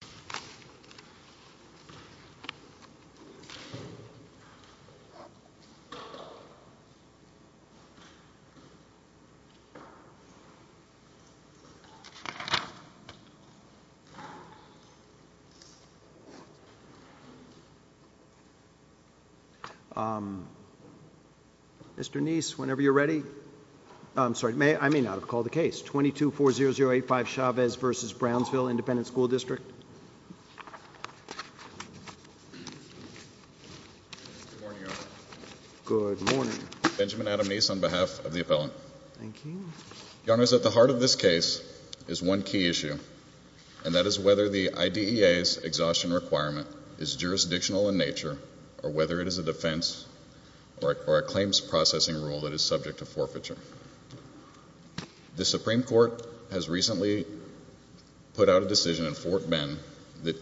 Independent School District. Mr. Neese, whenever you're ready. I'm sorry, I may not have called the case. Good morning, Your Honor. Good morning. Thank you. The Supreme Court has recently put out a decision in Fort Bend, the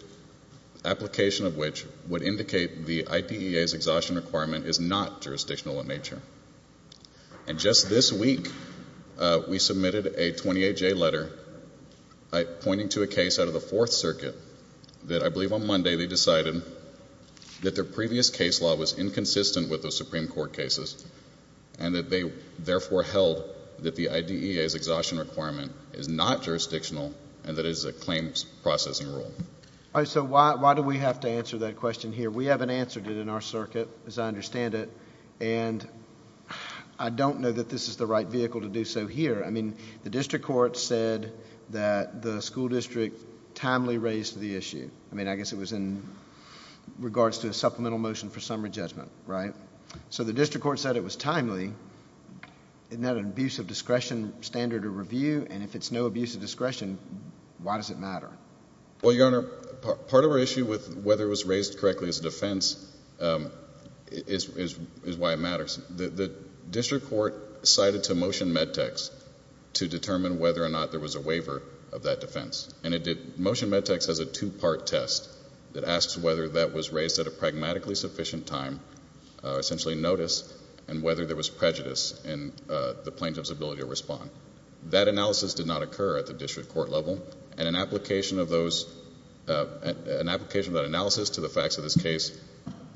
application of which would indicate the IDEA's exhaustion requirement is not jurisdictional in nature. And just this week, we submitted a 28-J letter pointing to a case out of the Fourth Circuit that I believe on Monday they decided that their previous case law was inconsistent with the Supreme Court cases and that they therefore held that the IDEA's exhaustion requirement is not jurisdictional and that it is a claims processing rule. All right, so why do we have to answer that question here? We haven't answered it in our circuit, as I understand it, and I don't know that this is the right vehicle to do so here. I mean, the district court said that the school district timely raised the issue. I mean, I guess it was in regards to a supplemental motion for summary judgment, right? So the district court said it was timely. Isn't that an abuse of discretion standard of review? And if it's no abuse of discretion, why does it matter? Well, Your Honor, part of our issue with whether it was raised correctly as a defense is why it matters. The district court cited to motion med-tex to determine whether or not there was a waiver of that defense. Motion med-tex has a two-part test that asks whether that was raised at a pragmatically sufficient time, essentially notice, and whether there was prejudice in the plaintiff's ability to respond. That analysis did not occur at the district court level, and an application of that analysis to the facts of this case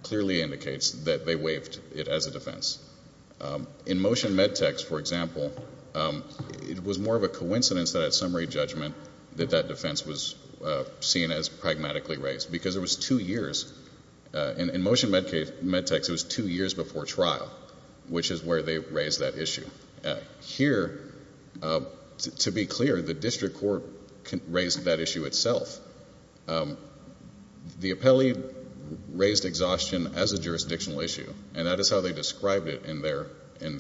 clearly indicates that they waived it as a defense. In motion med-tex, for example, it was more of a coincidence that at summary judgment that that defense was seen as pragmatically raised because it was two years. In motion med-tex, it was two years before trial, which is where they raised that issue. Here, to be clear, the district court raised that issue itself. The appellee raised exhaustion as a jurisdictional issue, and that is how they described it in their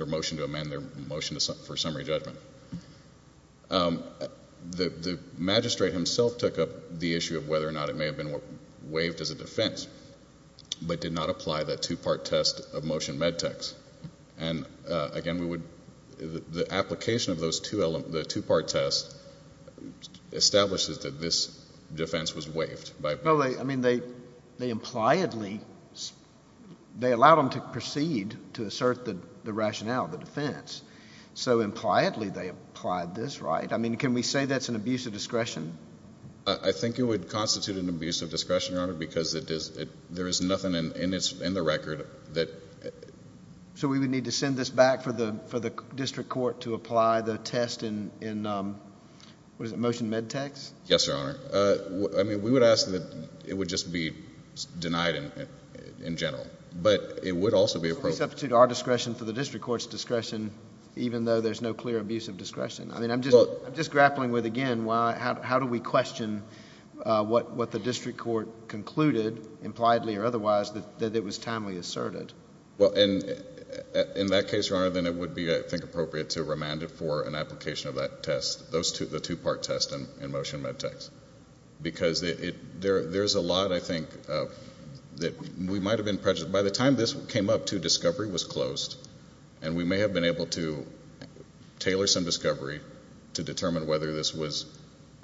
motion to amend their motion for summary judgment. The magistrate himself took up the issue of whether or not it may have been waived as a defense but did not apply that two-part test of motion med-tex. And again, the application of the two-part test establishes that this defense was waived. They impliedly allowed him to proceed to assert the rationale of the defense. So impliedly they applied this, right? Can we say that's an abuse of discretion? I think it would constitute an abuse of discretion, Your Honor, because there is nothing in the record that— So we would need to send this back for the district court to apply the test in motion med-tex? Yes, Your Honor. I mean, we would ask that it would just be denied in general. But it would also be— Please substitute our discretion for the district court's discretion, even though there's no clear abuse of discretion. I mean, I'm just grappling with, again, how do we question what the district court concluded, impliedly or otherwise, that it was timely asserted? Well, in that case, Your Honor, then it would be, I think, appropriate to remand it for an application of that test, the two-part test in motion med-tex, because there's a lot, I think, that we might have been prejudiced. By the time this came up, too, discovery was closed, and we may have been able to tailor some discovery to determine whether this was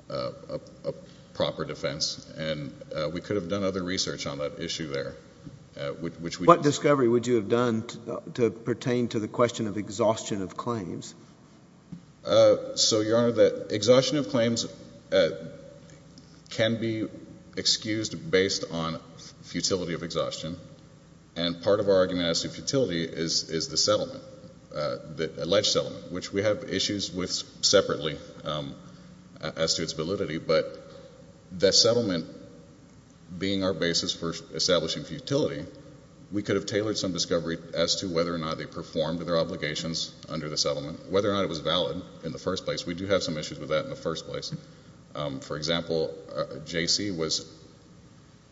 a proper defense, and we could have done other research on that issue there. What discovery would you have done to pertain to the question of exhaustion of claims? So, Your Honor, the exhaustion of claims can be excused based on futility of exhaustion, and part of our argument as to futility is the settlement, the alleged settlement, which we have issues with separately as to its validity. But the settlement being our basis for establishing futility, we could have tailored some discovery as to whether or not they performed their obligations under the settlement, whether or not it was valid in the first place. We do have some issues with that in the first place. For example, J.C.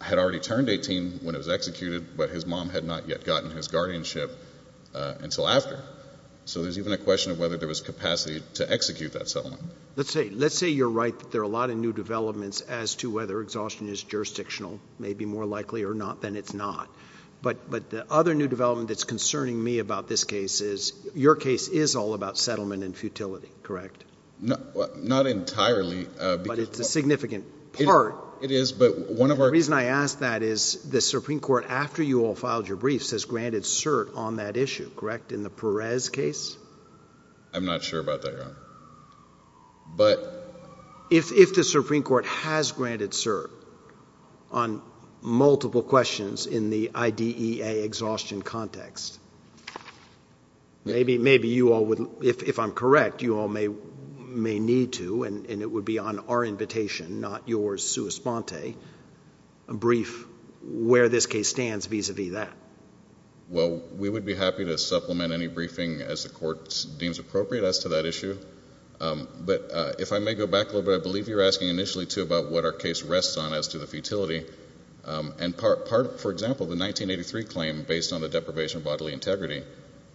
had already turned 18 when it was executed, but his mom had not yet gotten his guardianship until after. So there's even a question of whether there was capacity to execute that settlement. Let's say you're right that there are a lot of new developments as to whether exhaustion is jurisdictional, maybe more likely or not, than it's not. But the other new development that's concerning me about this case is your case is all about settlement and futility, correct? Not entirely. But it's a significant part. It is, but one of our— And the reason I ask that is the Supreme Court, after you all filed your briefs, has granted cert on that issue, correct, in the Perez case? I'm not sure about that, Your Honor. But— If the Supreme Court has granted cert on multiple questions in the IDEA exhaustion context, maybe you all would—if I'm correct, you all may need to, and it would be on our invitation, not yours, sua sponte, brief where this case stands vis-à-vis that. Well, we would be happy to supplement any briefing as the Court deems appropriate as to that issue. But if I may go back a little bit, I believe you were asking initially, too, about what our case rests on as to the futility. And, for example, the 1983 claim based on the deprivation of bodily integrity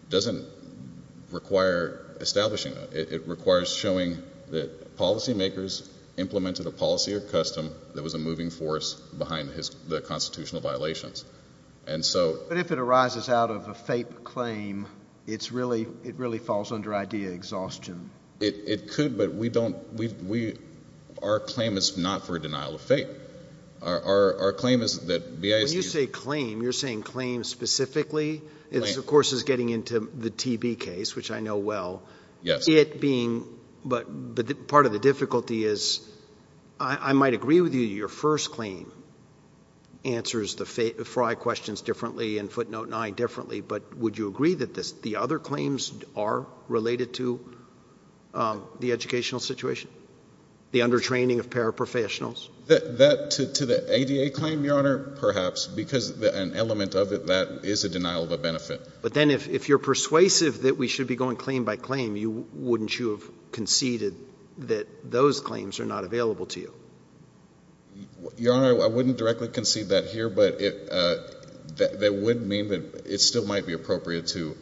doesn't require establishing that. It requires showing that policymakers implemented a policy or custom that was a moving force behind the constitutional violations. But if it arises out of a FAPE claim, it really falls under IDEA exhaustion. It could, but we don't—our claim is not for a denial of FAPE. Our claim is that BIS— When you say claim, you're saying claim specifically. This, of course, is getting into the TB case, which I know well. Yes. But part of the difficulty is I might agree with you that your first claim answers the Fry questions differently and footnote 9 differently. But would you agree that the other claims are related to the educational situation, the under-training of paraprofessionals? That, to the ADA claim, Your Honor, perhaps, because an element of it that is a denial of a benefit. But then if you're persuasive that we should be going claim by claim, wouldn't you have conceded that those claims are not available to you? Your Honor, I wouldn't directly concede that here, but that would mean that it still might be appropriate to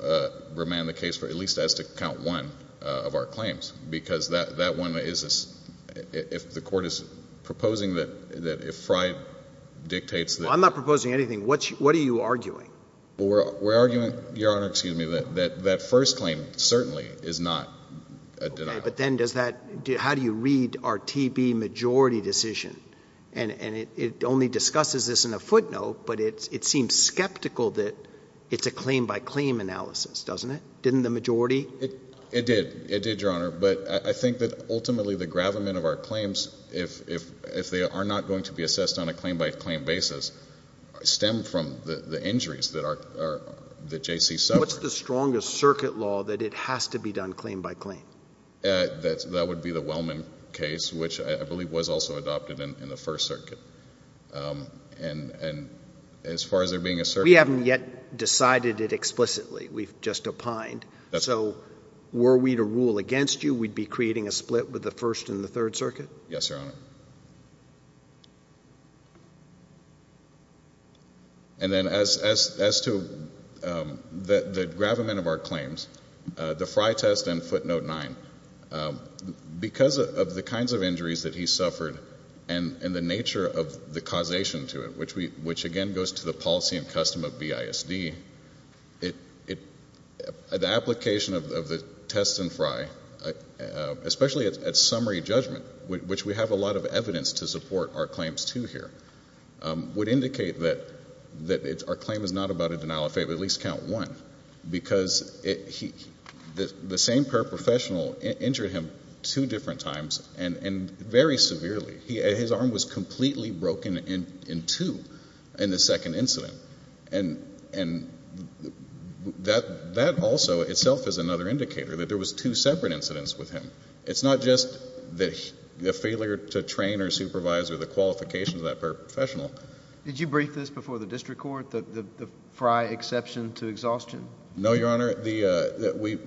remand the case for at least as to count one of our claims. Because that one is—if the court is proposing that if Fry dictates that— I'm not proposing anything. What are you arguing? We're arguing, Your Honor, excuse me, that that first claim certainly is not a denial. But then does that—how do you read our TB majority decision? And it only discusses this in a footnote, but it seems skeptical that it's a claim by claim analysis, doesn't it? Didn't the majority? It did. It did, Your Honor. But I think that ultimately the gravamen of our claims, if they are not going to be assessed on a claim by claim basis, stem from the injuries that J.C. suffered. What's the strongest circuit law that it has to be done claim by claim? That would be the Wellman case, which I believe was also adopted in the First Circuit. And as far as there being a circuit— We haven't yet decided it explicitly. We've just opined. So were we to rule against you, we'd be creating a split with the First and the Third Circuit? Yes, Your Honor. And then as to the gravamen of our claims, the Fry test and footnote 9, because of the kinds of injuries that he suffered and the nature of the causation to it, which again goes to the policy and custom of BISD, the application of the test in Fry, especially at summary judgment, which we have a lot of evidence to support our claims to here, would indicate that our claim is not about a denial of faith, but at least count one, because the same paraprofessional injured him two different times and very severely. His arm was completely broken in two in the second incident. And that also itself is another indicator that there was two separate incidents with him. It's not just the failure to train or supervise or the qualifications of that paraprofessional. Did you brief this before the district court, the Fry exception to exhaustion? No, Your Honor. We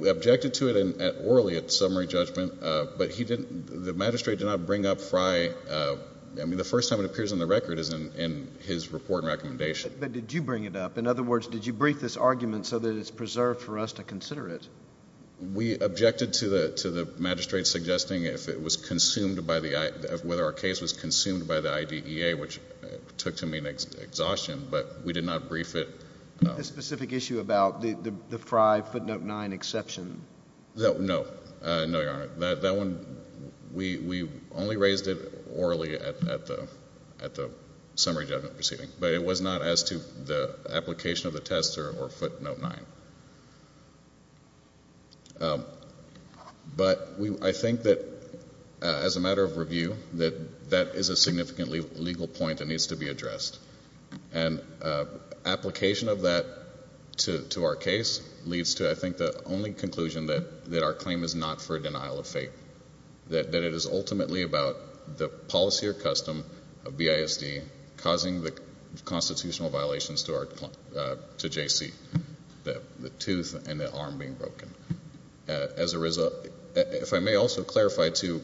objected to it orally at summary judgment, but the magistrate did not bring up Fry. I mean, the first time it appears on the record is in his report and recommendation. But did you bring it up? In other words, did you brief this argument so that it's preserved for us to consider it? We objected to the magistrate suggesting whether our case was consumed by the IDEA, which took to mean exhaustion, but we did not brief it. The specific issue about the Fry footnote 9 exception. No. No, Your Honor. That one, we only raised it orally at the summary judgment proceeding, but it was not as to the application of the test or footnote 9. But I think that as a matter of review, that that is a significantly legal point that needs to be addressed. And application of that to our case leads to, I think, the only conclusion that our claim is not for a denial of faith, that it is ultimately about the policy or custom of BISD causing the constitutional violations to JC, the tooth and the arm being broken. As a result, if I may also clarify, too,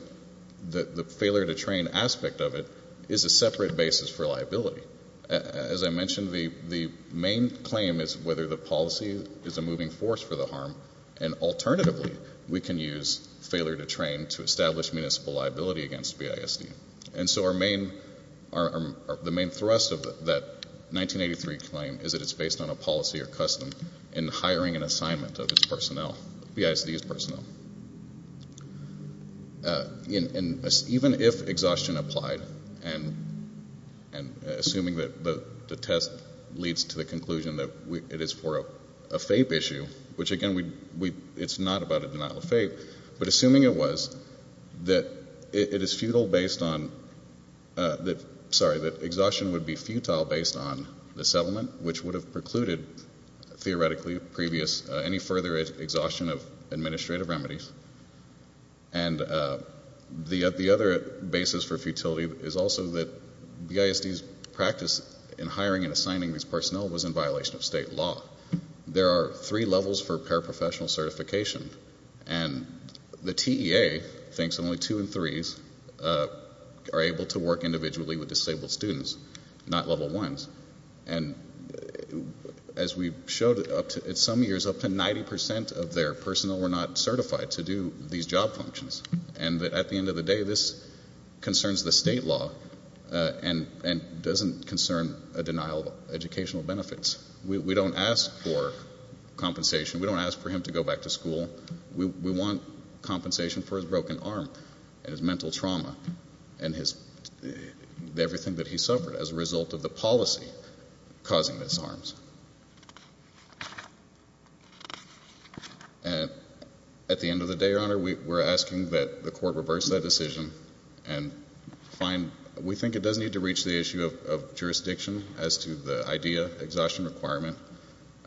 the failure to train aspect of it is a separate basis for liability. As I mentioned, the main claim is whether the policy is a moving force for the harm, and alternatively we can use failure to train to establish municipal liability against BISD. And so our main, the main thrust of that 1983 claim is that it's based on a policy or custom in hiring an assignment of its personnel, BISD's personnel. And even if exhaustion applied and assuming that the test leads to the conclusion that it is for a faith issue, which again, it's not about a denial of faith, but assuming it was, that it is futile based on, sorry, that exhaustion would be futile based on the settlement, which would have precluded theoretically previous, any further exhaustion of administrative remedies. And the other basis for futility is also that BISD's practice in hiring and assigning its personnel was in violation of state law. There are three levels for paraprofessional certification. And the TEA thinks only two and threes are able to work individually with disabled students, not level ones. And as we showed up to, in some years, up to 90% of their personnel were not certified to do these job functions. And at the end of the day, this concerns the state law and doesn't concern a denial of educational benefits. We don't ask for compensation. We don't ask for him to go back to school. We want compensation for his broken arm and his mental trauma and everything that he suffered as a result of the policy causing his arms. And at the end of the day, Your Honor, we're asking that the court reverse that decision and find we think it does need to reach the issue of jurisdiction as to the IDEA exhaustion requirement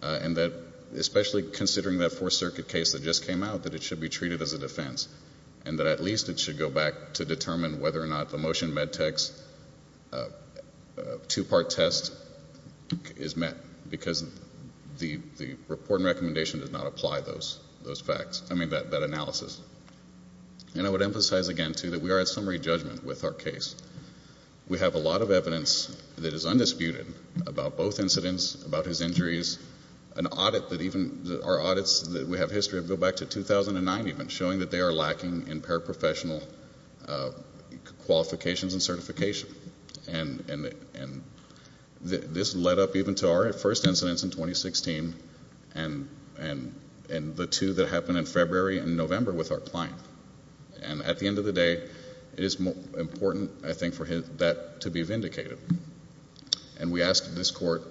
and that especially considering that Fourth Circuit case that just came out, that it should be treated as a defense and that at least it should go back to determine whether or not the motion med tech's two-part test is met because the report and recommendation does not apply those facts, I mean that analysis. And I would emphasize again, too, that we are at summary judgment with our case. We have a lot of evidence that is undisputed about both incidents, about his injuries, an audit that even our audits that we have history of go back to 2009 even, showing that they are lacking in paraprofessional qualifications and certification. And this led up even to our first incidents in 2016 and the two that happened in February and November with our client. And at the end of the day, it is important, I think, for that to be vindicated. And we ask this court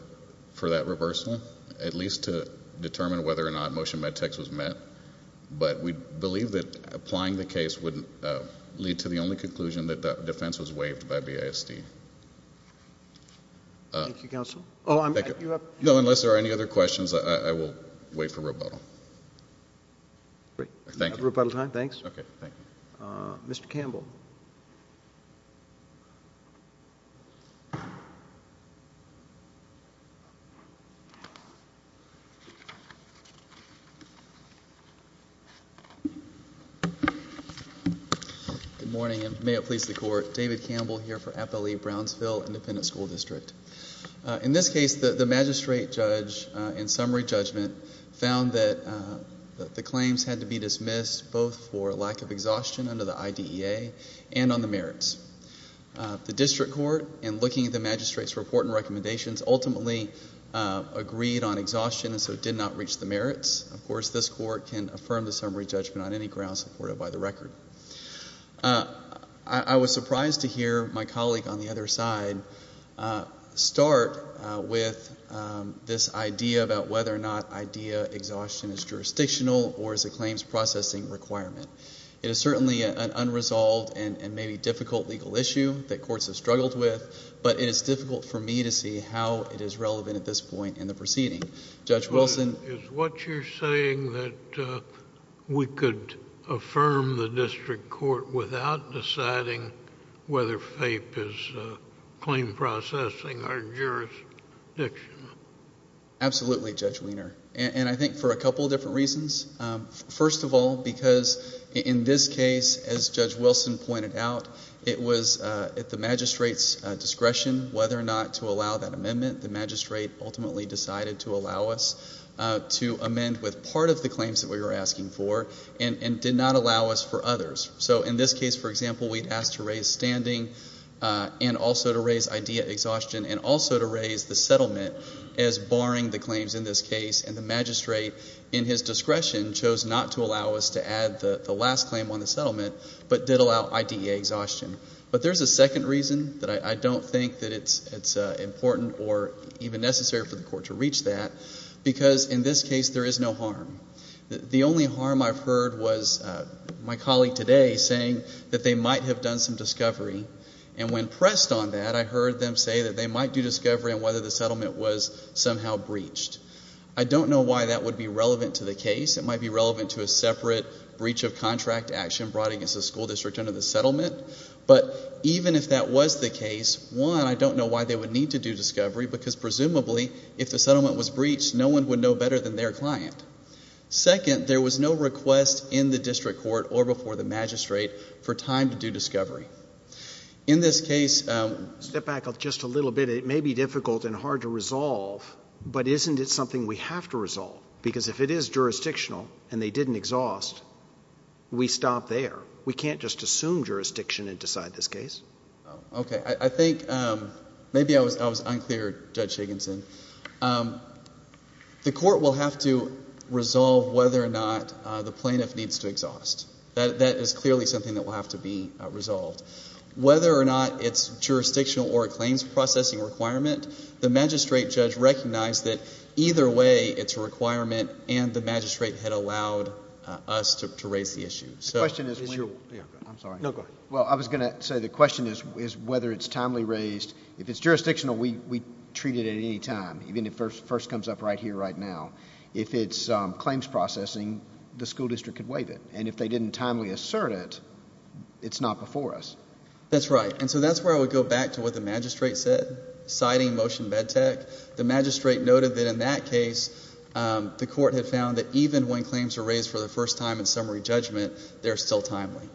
for that reversal, at least to determine whether or not motion med tech's was met. But we believe that applying the case would lead to the only conclusion that the defense was waived by BISD. Thank you, counsel. No, unless there are any other questions, I will wait for rebuttal. Great. Thank you. Rebuttal time? Thanks. Okay, thank you. Mr. Campbell. Good morning, and may it please the court. David Campbell here for FLE Brownsville Independent School District. In this case, the magistrate judge in summary judgment found that the claims had to be dismissed, both for lack of exhaustion under the IDEA and on the merits. The district court, in looking at the magistrate's report and recommendations, of course, this court can affirm the summary judgment on any grounds supported by the record. I was surprised to hear my colleague on the other side start with this idea about whether or not IDEA exhaustion is jurisdictional or is a claims processing requirement. It is certainly an unresolved and maybe difficult legal issue that courts have struggled with, but it is difficult for me to see how it is relevant at this point in the proceeding. Judge Wilson? Is what you're saying that we could affirm the district court without deciding whether FAPE is claim processing or jurisdictional? Absolutely, Judge Wiener, and I think for a couple of different reasons. First of all, because in this case, as Judge Wilson pointed out, it was at the magistrate's discretion whether or not to allow that amendment. The magistrate ultimately decided to allow us to amend with part of the claims that we were asking for and did not allow us for others. So in this case, for example, we had asked to raise standing and also to raise IDEA exhaustion and also to raise the settlement as barring the claims in this case, and the magistrate, in his discretion, chose not to allow us to add the last claim on the settlement but did allow IDEA exhaustion. But there's a second reason that I don't think that it's important or even necessary for the court to reach that, because in this case there is no harm. The only harm I've heard was my colleague today saying that they might have done some discovery, and when pressed on that, I heard them say that they might do discovery on whether the settlement was somehow breached. I don't know why that would be relevant to the case. It might be relevant to a separate breach of contract action brought against the school district under the settlement. But even if that was the case, one, I don't know why they would need to do discovery because presumably if the settlement was breached, no one would know better than their client. Second, there was no request in the district court or before the magistrate for time to do discovery. In this case ‑‑ Step back just a little bit. It may be difficult and hard to resolve, but isn't it something we have to resolve? Because if it is jurisdictional and they didn't exhaust, we stop there. We can't just assume jurisdiction and decide this case. Okay. I think maybe I was unclear, Judge Shaganson. The court will have to resolve whether or not the plaintiff needs to exhaust. That is clearly something that will have to be resolved. Whether or not it's jurisdictional or a claims processing requirement, the magistrate judge recognized that either way it's a requirement and the magistrate had allowed us to raise the issue. The question is ‑‑ I'm sorry. No, go ahead. Well, I was going to say the question is whether it's timely raised. If it's jurisdictional, we treat it at any time, even if it first comes up right here, right now. If it's claims processing, the school district could waive it. And if they didn't timely assert it, it's not before us. That's right. And so that's where I would go back to what the magistrate said, citing motion MedTech. The magistrate noted that in that case the court had found that even when claims were raised for the first time in summary judgment, they're still timely.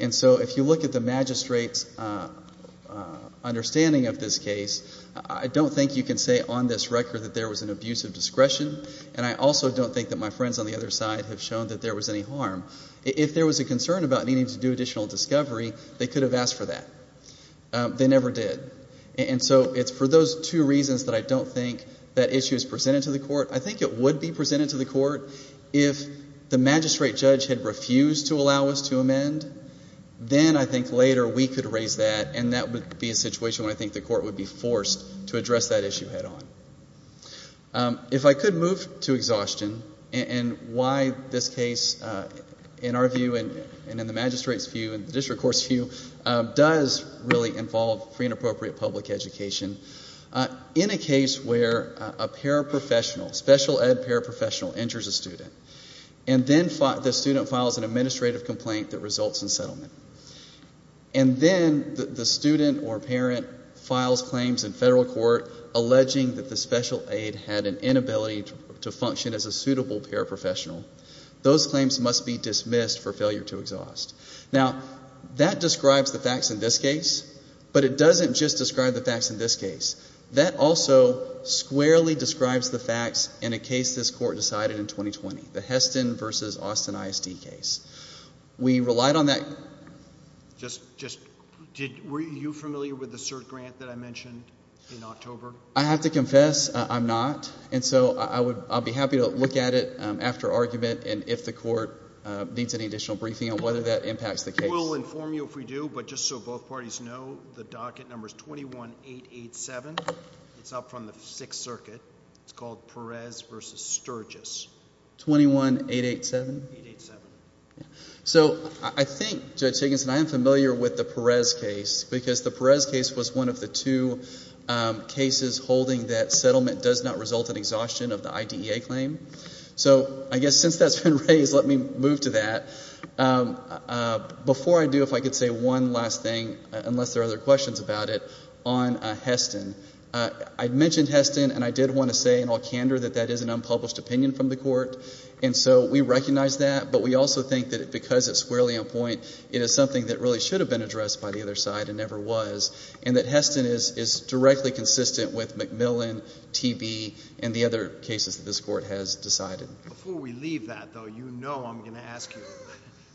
And so if you look at the magistrate's understanding of this case, I don't think you can say on this record that there was an abuse of discretion, and I also don't think that my friends on the other side have shown that there was any harm. If there was a concern about needing to do additional discovery, they could have asked for that. They never did. And so it's for those two reasons that I don't think that issue is presented to the court. I think it would be presented to the court if the magistrate judge had refused to allow us to amend. Then I think later we could raise that, and that would be a situation where I think the court would be forced to address that issue head on. If I could move to exhaustion and why this case, in our view and in the magistrate's view and the district court's view, does really involve free and appropriate public education, in a case where a paraprofessional, special ed paraprofessional, injures a student and then the student files an administrative complaint that results in settlement, and then the student or parent files claims in federal court alleging that the special aid had an inability to function as a suitable paraprofessional, those claims must be dismissed for failure to exhaust. Now that describes the facts in this case, but it doesn't just describe the facts in this case. That also squarely describes the facts in a case this court decided in 2020, the Heston v. Austin ISD case. We relied on that. Were you familiar with the cert grant that I mentioned in October? I have to confess I'm not, and so I'll be happy to look at it after argument and if the court needs any additional briefing on whether that impacts the case. We'll inform you if we do, but just so both parties know, the docket number is 21887. It's up from the Sixth Circuit. It's called Perez v. Sturgis. 21887? 887. So I think, Judge Higginson, I am familiar with the Perez case because the Perez case was one of the two cases holding that settlement does not result in exhaustion of the IDEA claim. So I guess since that's been raised, let me move to that. Before I do, if I could say one last thing, unless there are other questions about it, on Heston. I mentioned Heston, and I did want to say in all candor that that is an unpublished opinion from the court, and so we recognize that, but we also think that because it's squarely on point, it is something that really should have been addressed by the other side and never was, and that Heston is directly consistent with McMillan, TB, and the other cases that this court has decided. Before we leave that, though, you know I'm going to ask you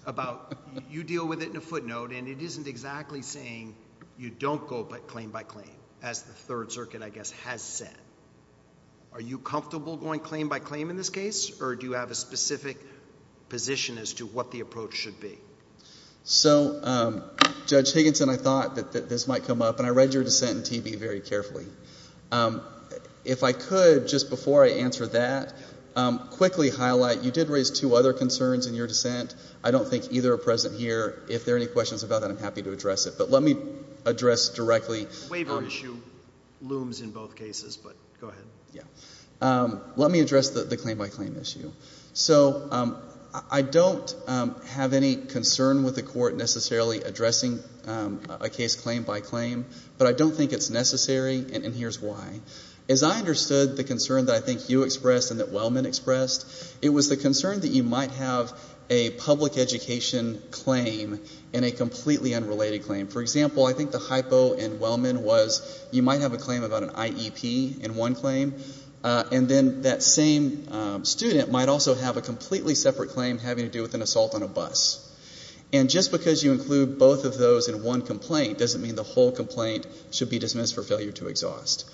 about you deal with it in a footnote, and it isn't exactly saying you don't go claim by claim, as the Third Circuit, I guess, has said. Are you comfortable going claim by claim in this case, or do you have a specific position as to what the approach should be? So, Judge Higginson, I thought that this might come up, and I read your dissent in TB very carefully. If I could, just before I answer that, quickly highlight you did raise two other concerns in your dissent. I don't think either are present here. If there are any questions about that, I'm happy to address it, but let me address directly. Waiver issue looms in both cases, but go ahead. Yeah. Let me address the claim by claim issue. So I don't have any concern with the court necessarily addressing a case claim by claim, but I don't think it's necessary, and here's why. As I understood the concern that I think you expressed and that Wellman expressed, it was the concern that you might have a public education claim and a completely unrelated claim. For example, I think the hypo in Wellman was you might have a claim about an IEP in one claim, and then that same student might also have a completely separate claim having to do with an assault on a bus. And just because you include both of those in one complaint doesn't mean the whole complaint should be dismissed for failure to exhaust.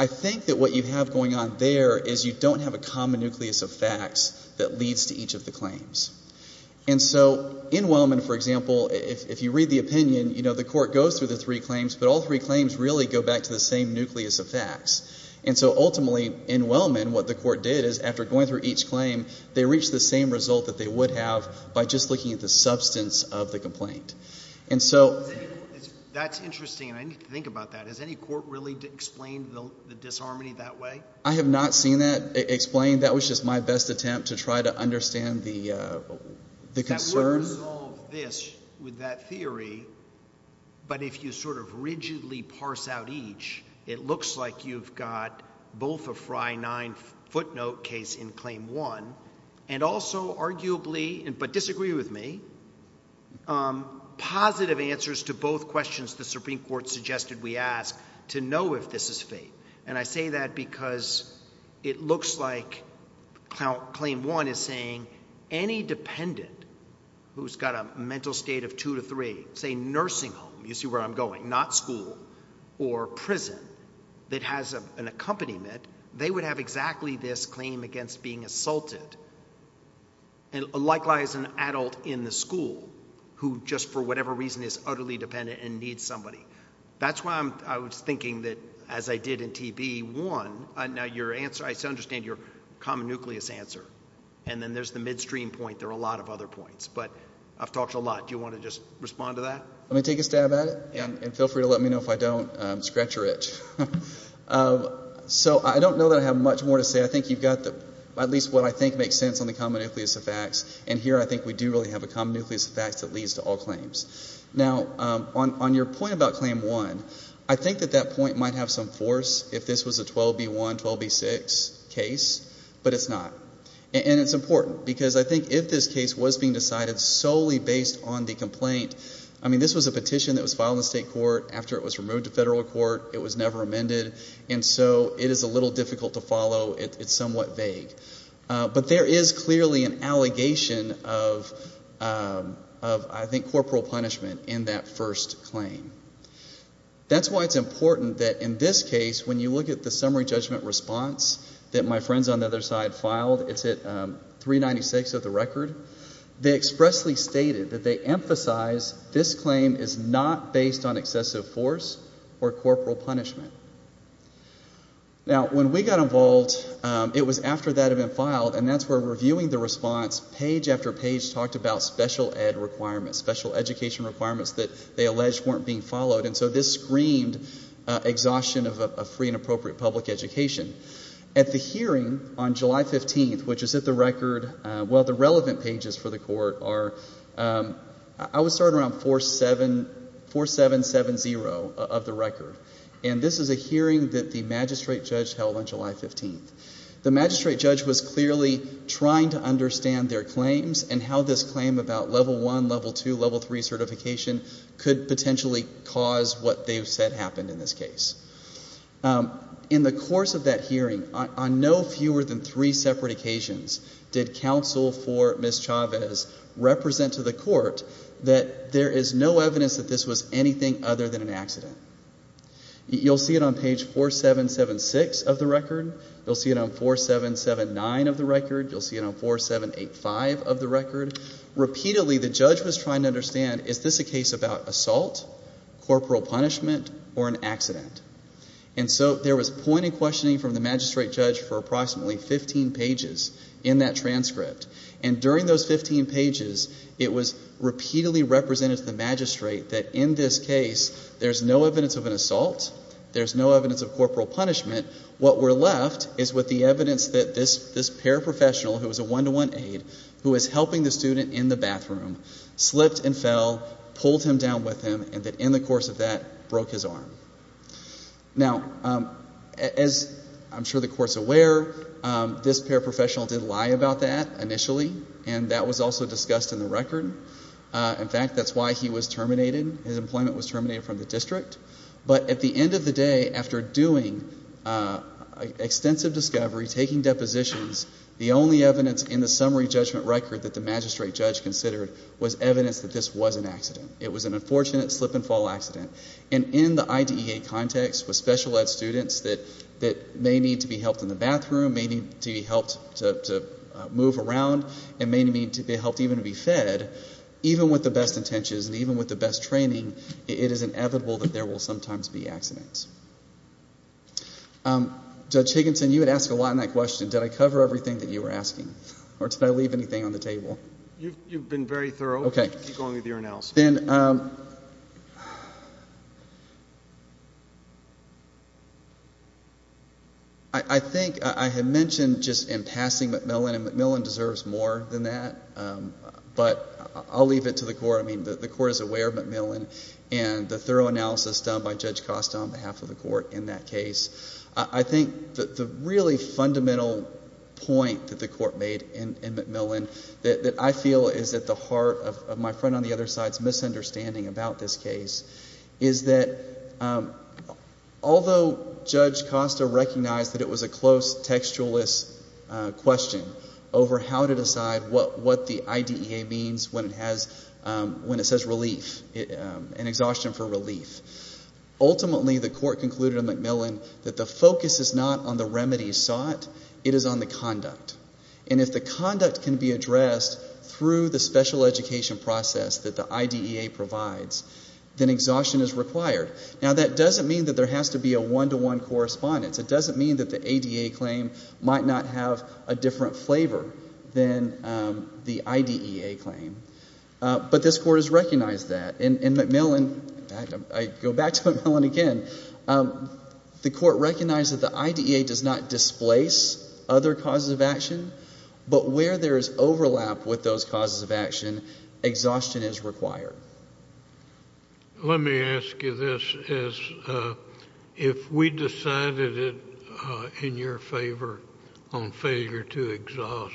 I think that what you have going on there is you don't have a common nucleus of facts that leads to each of the claims. And so in Wellman, for example, if you read the opinion, you know, the court goes through the three claims, but all three claims really go back to the same nucleus of facts. And so ultimately in Wellman, what the court did is after going through each claim, they reached the same result that they would have by just looking at the substance of the complaint. And so that's interesting, and I need to think about that. Has any court really explained the disharmony that way? I have not seen that explained. That was just my best attempt to try to understand the concern. I would resolve this with that theory, but if you sort of rigidly parse out each, it looks like you've got both a Frye 9 footnote case in Claim 1 and also arguably, but disagree with me, positive answers to both questions the Supreme Court suggested we ask to know if this is fake. And I say that because it looks like Claim 1 is saying any dependent who's got a mental state of 2 to 3, say nursing home, you see where I'm going, not school, or prison, that has an accompaniment, they would have exactly this claim against being assaulted. And likewise, an adult in the school who just for whatever reason is utterly dependent and needs somebody. That's why I was thinking that as I did in TB, one, I understand your common nucleus answer, and then there's the midstream point. There are a lot of other points, but I've talked a lot. Do you want to just respond to that? Let me take a stab at it, and feel free to let me know if I don't scratch your itch. So I don't know that I have much more to say. I think you've got at least what I think makes sense on the common nucleus of facts, and here I think we do really have a common nucleus of facts that leads to all claims. Now, on your point about Claim 1, I think that that point might have some force if this was a 12B1, 12B6 case, but it's not. And it's important because I think if this case was being decided solely based on the complaint, I mean this was a petition that was filed in the state court. After it was removed to federal court, it was never amended, and so it is a little difficult to follow. It's somewhat vague. But there is clearly an allegation of, I think, corporal punishment in that first claim. That's why it's important that in this case, when you look at the summary judgment response that my friends on the other side filed, it's at 396 of the record, they expressly stated that they emphasize this claim is not based on excessive force or corporal punishment. Now, when we got involved, it was after that had been filed, and that's where reviewing the response, page after page talked about special ed requirements, special education requirements that they alleged weren't being followed, and so this screamed exhaustion of a free and appropriate public education. At the hearing on July 15th, which is at the record, well, the relevant pages for the court are, I would start around 4770 of the record. And this is a hearing that the magistrate judge held on July 15th. The magistrate judge was clearly trying to understand their claims and how this claim about Level I, Level II, Level III certification could potentially cause what they've said happened in this case. In the course of that hearing, on no fewer than three separate occasions did counsel for Ms. Chavez represent to the court that there is no evidence that this was anything other than an accident. You'll see it on page 4776 of the record. You'll see it on 4779 of the record. You'll see it on 4785 of the record. Repeatedly, the judge was trying to understand, is this a case about assault, corporal punishment, or an accident? And so there was point in questioning from the magistrate judge for approximately 15 pages in that transcript, and during those 15 pages, it was repeatedly represented to the magistrate that in this case, there's no evidence of an assault, there's no evidence of corporal punishment. What were left is with the evidence that this paraprofessional, who was a one-to-one aide, who was helping the student in the bathroom, slipped and fell, pulled him down with him, and that in the course of that, broke his arm. Now, as I'm sure the Court's aware, this paraprofessional did lie about that initially, and that was also discussed in the record. In fact, that's why he was terminated. His employment was terminated from the district. But at the end of the day, after doing extensive discovery, taking depositions, the only evidence in the summary judgment record that the magistrate judge considered was evidence that this was an accident. It was an unfortunate slip-and-fall accident. And in the IDEA context, with special ed students that may need to be helped in the bathroom, may need to be helped to move around, and may need to be helped even to be fed, even with the best intentions and even with the best training, it is inevitable that there will sometimes be accidents. Judge Higginson, you had asked a lot in that question, did I cover everything that you were asking, or did I leave anything on the table? You've been very thorough. Okay. Keep going with your analysis. Ben, I think I had mentioned just in passing McMillan, and McMillan deserves more than that, but I'll leave it to the court. I mean, the court is aware of McMillan and the thorough analysis done by Judge Costa on behalf of the court in that case. I think that the really fundamental point that the court made in McMillan that I feel is at the heart of my friend on the other side's misunderstanding about this case is that although Judge Costa recognized that it was a close, textualist question over how to decide what the IDEA means when it says relief, an exhaustion for relief, ultimately the court concluded in McMillan that the focus is not on the remedies sought, it is on the conduct. And if the conduct can be addressed through the special education process that the IDEA provides, then exhaustion is required. Now, that doesn't mean that there has to be a one-to-one correspondence. It doesn't mean that the ADA claim might not have a different flavor than the IDEA claim. But this court has recognized that. I go back to McMillan again. The court recognized that the IDEA does not displace other causes of action, but where there is overlap with those causes of action, exhaustion is required. Let me ask you this. If we decided it in your favor on failure to exhaust,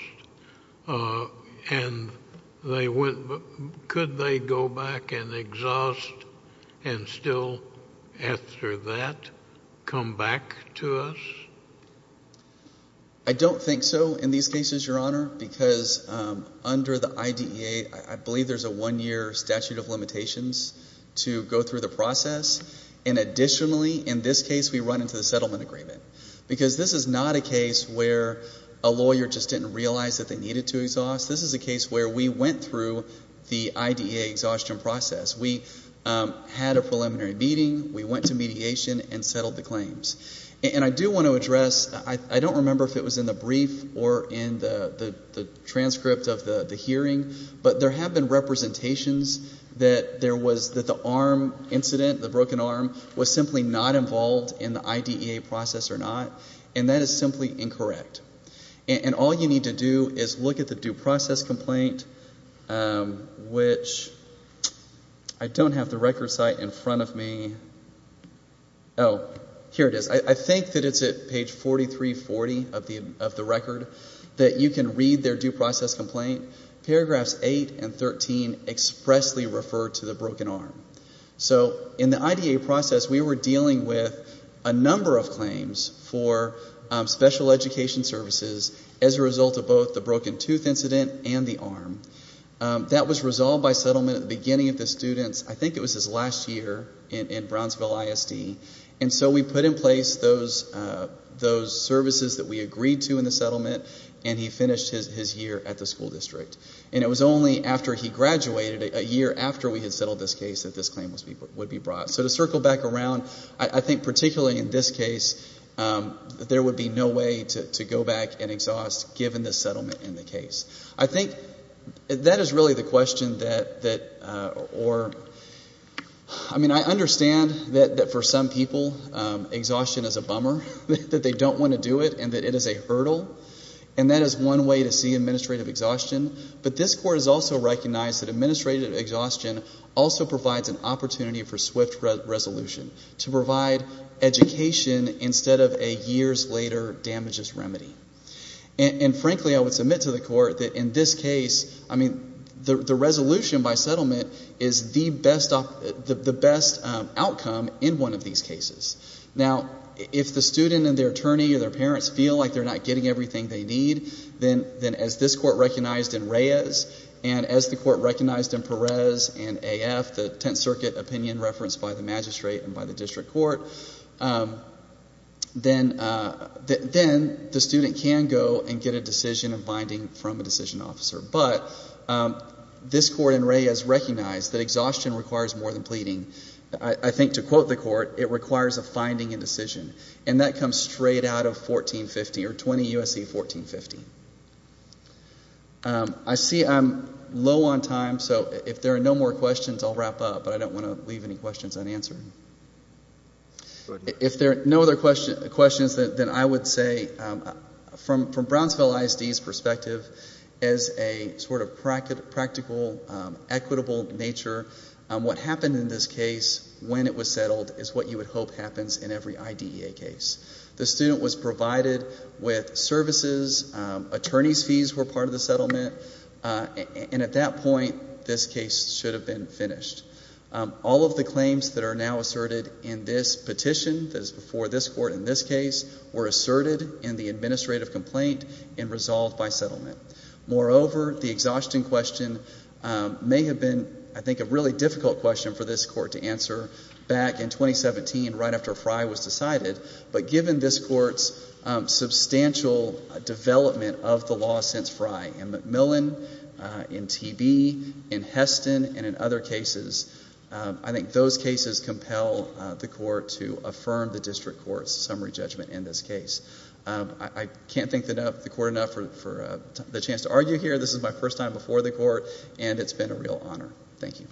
could they go back and exhaust and still after that come back to us? I don't think so in these cases, Your Honor, because under the IDEA, I believe there's a one-year statute of limitations to go through the process. And additionally, in this case, we run into the settlement agreement, because this is not a case where a lawyer just didn't realize that they needed to exhaust. This is a case where we went through the IDEA exhaustion process. We had a preliminary meeting. We went to mediation and settled the claims. And I do want to address, I don't remember if it was in the brief or in the transcript of the hearing, but there have been representations that the arm incident, the broken arm, was simply not involved in the IDEA process or not, and that is simply incorrect. And all you need to do is look at the due process complaint, which I don't have the record site in front of me. Oh, here it is. I think that it's at page 4340 of the record that you can read their due process complaint. Paragraphs 8 and 13 expressly refer to the broken arm. So in the IDEA process, we were dealing with a number of claims for special education services as a result of both the broken tooth incident and the arm. That was resolved by settlement at the beginning of the students. I think it was his last year in Brownsville ISD. And so we put in place those services that we agreed to in the settlement, and he finished his year at the school district. And it was only after he graduated, a year after we had settled this case, that this claim would be brought. So to circle back around, I think particularly in this case, there would be no way to go back and exhaust given the settlement in the case. I think that is really the question that, or, I mean, I understand that for some people exhaustion is a bummer, that they don't want to do it, and that it is a hurdle. And that is one way to see administrative exhaustion. But this court has also recognized that administrative exhaustion also provides an opportunity for swift resolution, to provide education instead of a years-later damages remedy. And frankly, I would submit to the court that in this case, I mean, the resolution by settlement is the best outcome in one of these cases. Now, if the student and their attorney or their parents feel like they're not getting everything they need, then as this court recognized in Reyes, and as the court recognized in Perez and AF, the Tenth Circuit opinion referenced by the magistrate and by the district court, then the student can go and get a decision of binding from a decision officer. But this court in Reyes recognized that exhaustion requires more than pleading. I think to quote the court, it requires a finding and decision. And that comes straight out of 1450, or 20 U.S.C. 1450. I see I'm low on time, so if there are no more questions, I'll wrap up. But I don't want to leave any questions unanswered. If there are no other questions, then I would say from Brownsville ISD's perspective, as a sort of practical, equitable nature, what happened in this case, when it was settled, is what you would hope happens in every IDEA case. The student was provided with services. Attorney's fees were part of the settlement. And at that point, this case should have been finished. All of the claims that are now asserted in this petition, that is before this court in this case, were asserted in the administrative complaint and resolved by settlement. Moreover, the exhaustion question may have been, I think, a really difficult question for this court to answer back in 2017, right after Frey was decided. But given this court's substantial development of the law since Frey, in McMillan, in TB, in Heston, and in other cases, I think those cases compel the court to affirm the district court's summary judgment in this case. I can't thank the court enough for the chance to argue here. This is my first time before the court, and it's been a real honor. Thank you.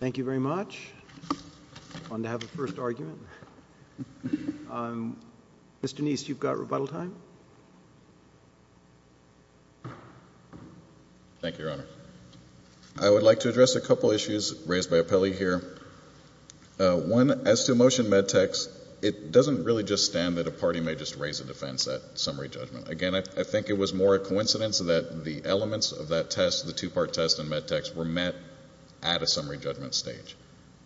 Thank you very much. Fun to have a first argument. Mr. Neist, you've got rebuttal time. Thank you, Your Honor. I would like to address a couple of issues raised by Appelli here. One, as to motion Med-Tex, it doesn't really just stand that a party may just raise a defense at summary judgment. Again, I think it was more a coincidence that the elements of that test, the two-part test in Med-Tex, were met at a summary judgment stage,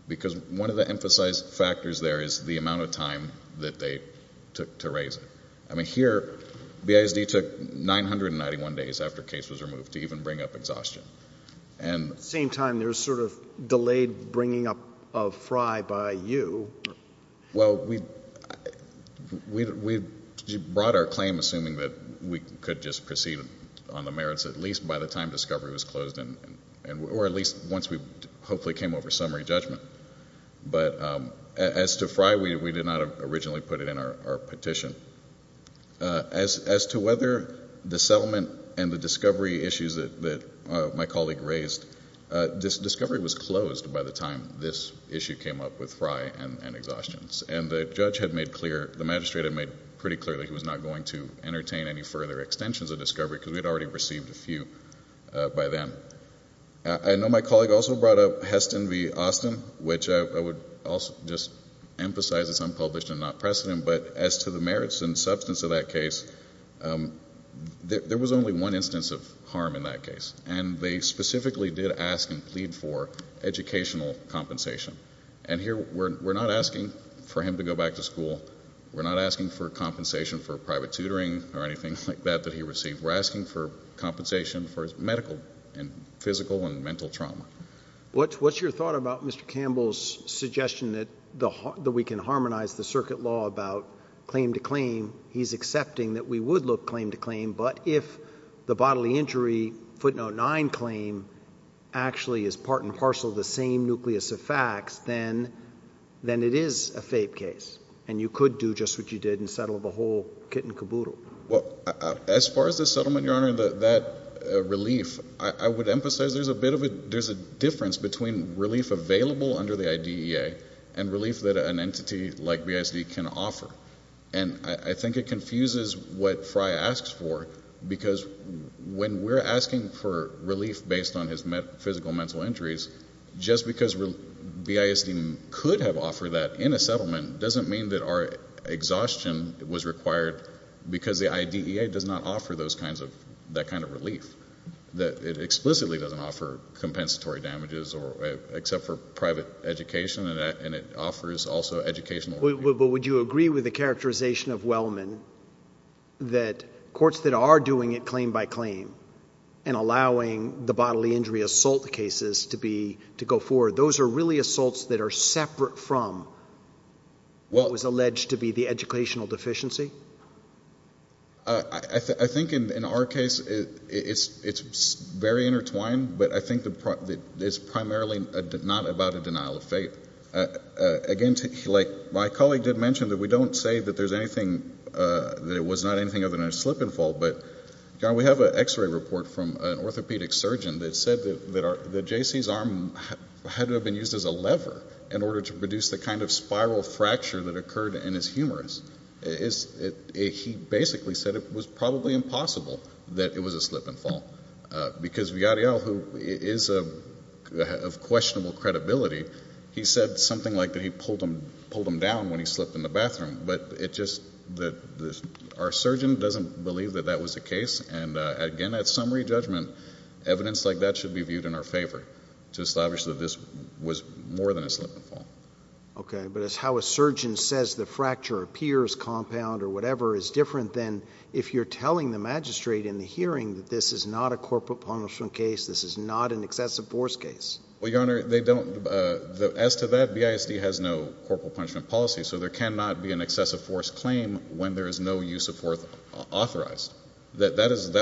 because one of the emphasized factors there is the amount of time that they took to raise it. I mean, here, BASD took 991 days after case was removed to even bring up exhaustion. At the same time, there's sort of delayed bringing up of Frye by you. Well, we brought our claim assuming that we could just proceed on the merits, at least by the time discovery was closed, or at least once we hopefully came over summary judgment. But as to Frye, we did not originally put it in our petition. As to whether the settlement and the discovery issues that my colleague raised, discovery was closed by the time this issue came up with Frye and exhaustions. And the judge had made clear, the magistrate had made pretty clear, that he was not going to entertain any further extensions of discovery, because we had already received a few by then. I know my colleague also brought up Heston v. Austin, which I would also just emphasize is unpublished and not precedent. But as to the merits and substance of that case, there was only one instance of harm in that case. And they specifically did ask and plead for educational compensation. And here, we're not asking for him to go back to school. We're not asking for compensation for private tutoring or anything like that that he received. We're asking for compensation for his medical and physical and mental trauma. What's your thought about Mr. Campbell's suggestion that we can harmonize the circuit law about claim to claim? He's accepting that we would look claim to claim, but if the bodily injury footnote 9 claim actually is part and parcel of the same nucleus of facts, then it is a fake case and you could do just what you did and settle the whole kit and caboodle. Well, as far as the settlement, Your Honor, that relief, I would emphasize there's a difference between relief available under the IDEA and relief that an entity like BISD can offer. And I think it confuses what Fry asks for, because when we're asking for relief based on his physical and mental injuries, just because BISD could have offered that in a settlement doesn't mean that our exhaustion was required because the IDEA does not offer that kind of relief. It explicitly doesn't offer compensatory damages except for private education, and it offers also educational relief. But would you agree with the characterization of Wellman that courts that are doing it claim by claim and allowing the bodily injury assault cases to go forward, those are really assaults that are separate from what was alleged to be the educational deficiency? I think in our case it's very intertwined, but I think it's primarily not about a denial of fate. Again, like my colleague did mention, we don't say that it was not anything other than a slip and fall, but, Your Honor, we have an X-ray report from an orthopedic surgeon that said that J.C.'s arm had to have been used as a lever in order to produce the kind of spiral fracture that occurred in his humerus. He basically said it was probably impossible that it was a slip and fall, because Villarreal, who is of questionable credibility, he said something like that he pulled him down when he slipped in the bathroom. And, again, at summary judgment, evidence like that should be viewed in our favor to establish that this was more than a slip and fall. Okay. But it's how a surgeon says the fracture appears compound or whatever is different than if you're telling the magistrate in the hearing that this is not a corporal punishment case, this is not an excessive force case. Well, Your Honor, as to that, BISD has no corporal punishment policy, so there cannot be an excessive force claim when there is no use of force authorized. That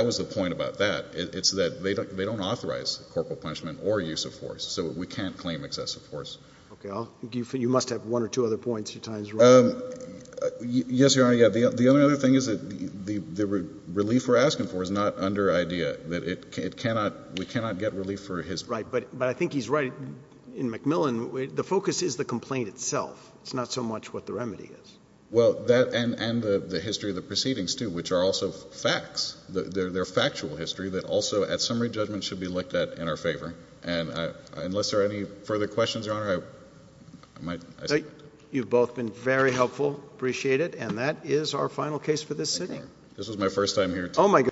was the point about that. It's that they don't authorize corporal punishment or use of force, so we can't claim excessive force. Okay. You must have one or two other points. Your time is running out. Yes, Your Honor. Yeah. The only other thing is that the relief we're asking for is not under IDEA, that it cannot ‑‑ we cannot get relief for his ‑‑ Right. But I think he's right. In McMillan, the focus is the complaint itself. It's not so much what the remedy is. Well, and the history of the proceedings, too, which are also facts. They're factual history that also, at summary judgment, should be looked at in our favor. And unless there are any further questions, Your Honor, I might ‑‑ You've both been very helpful. Appreciate it. And that is our final case for this sitting. Thank you. This was my first time here, too. Oh, my goodness.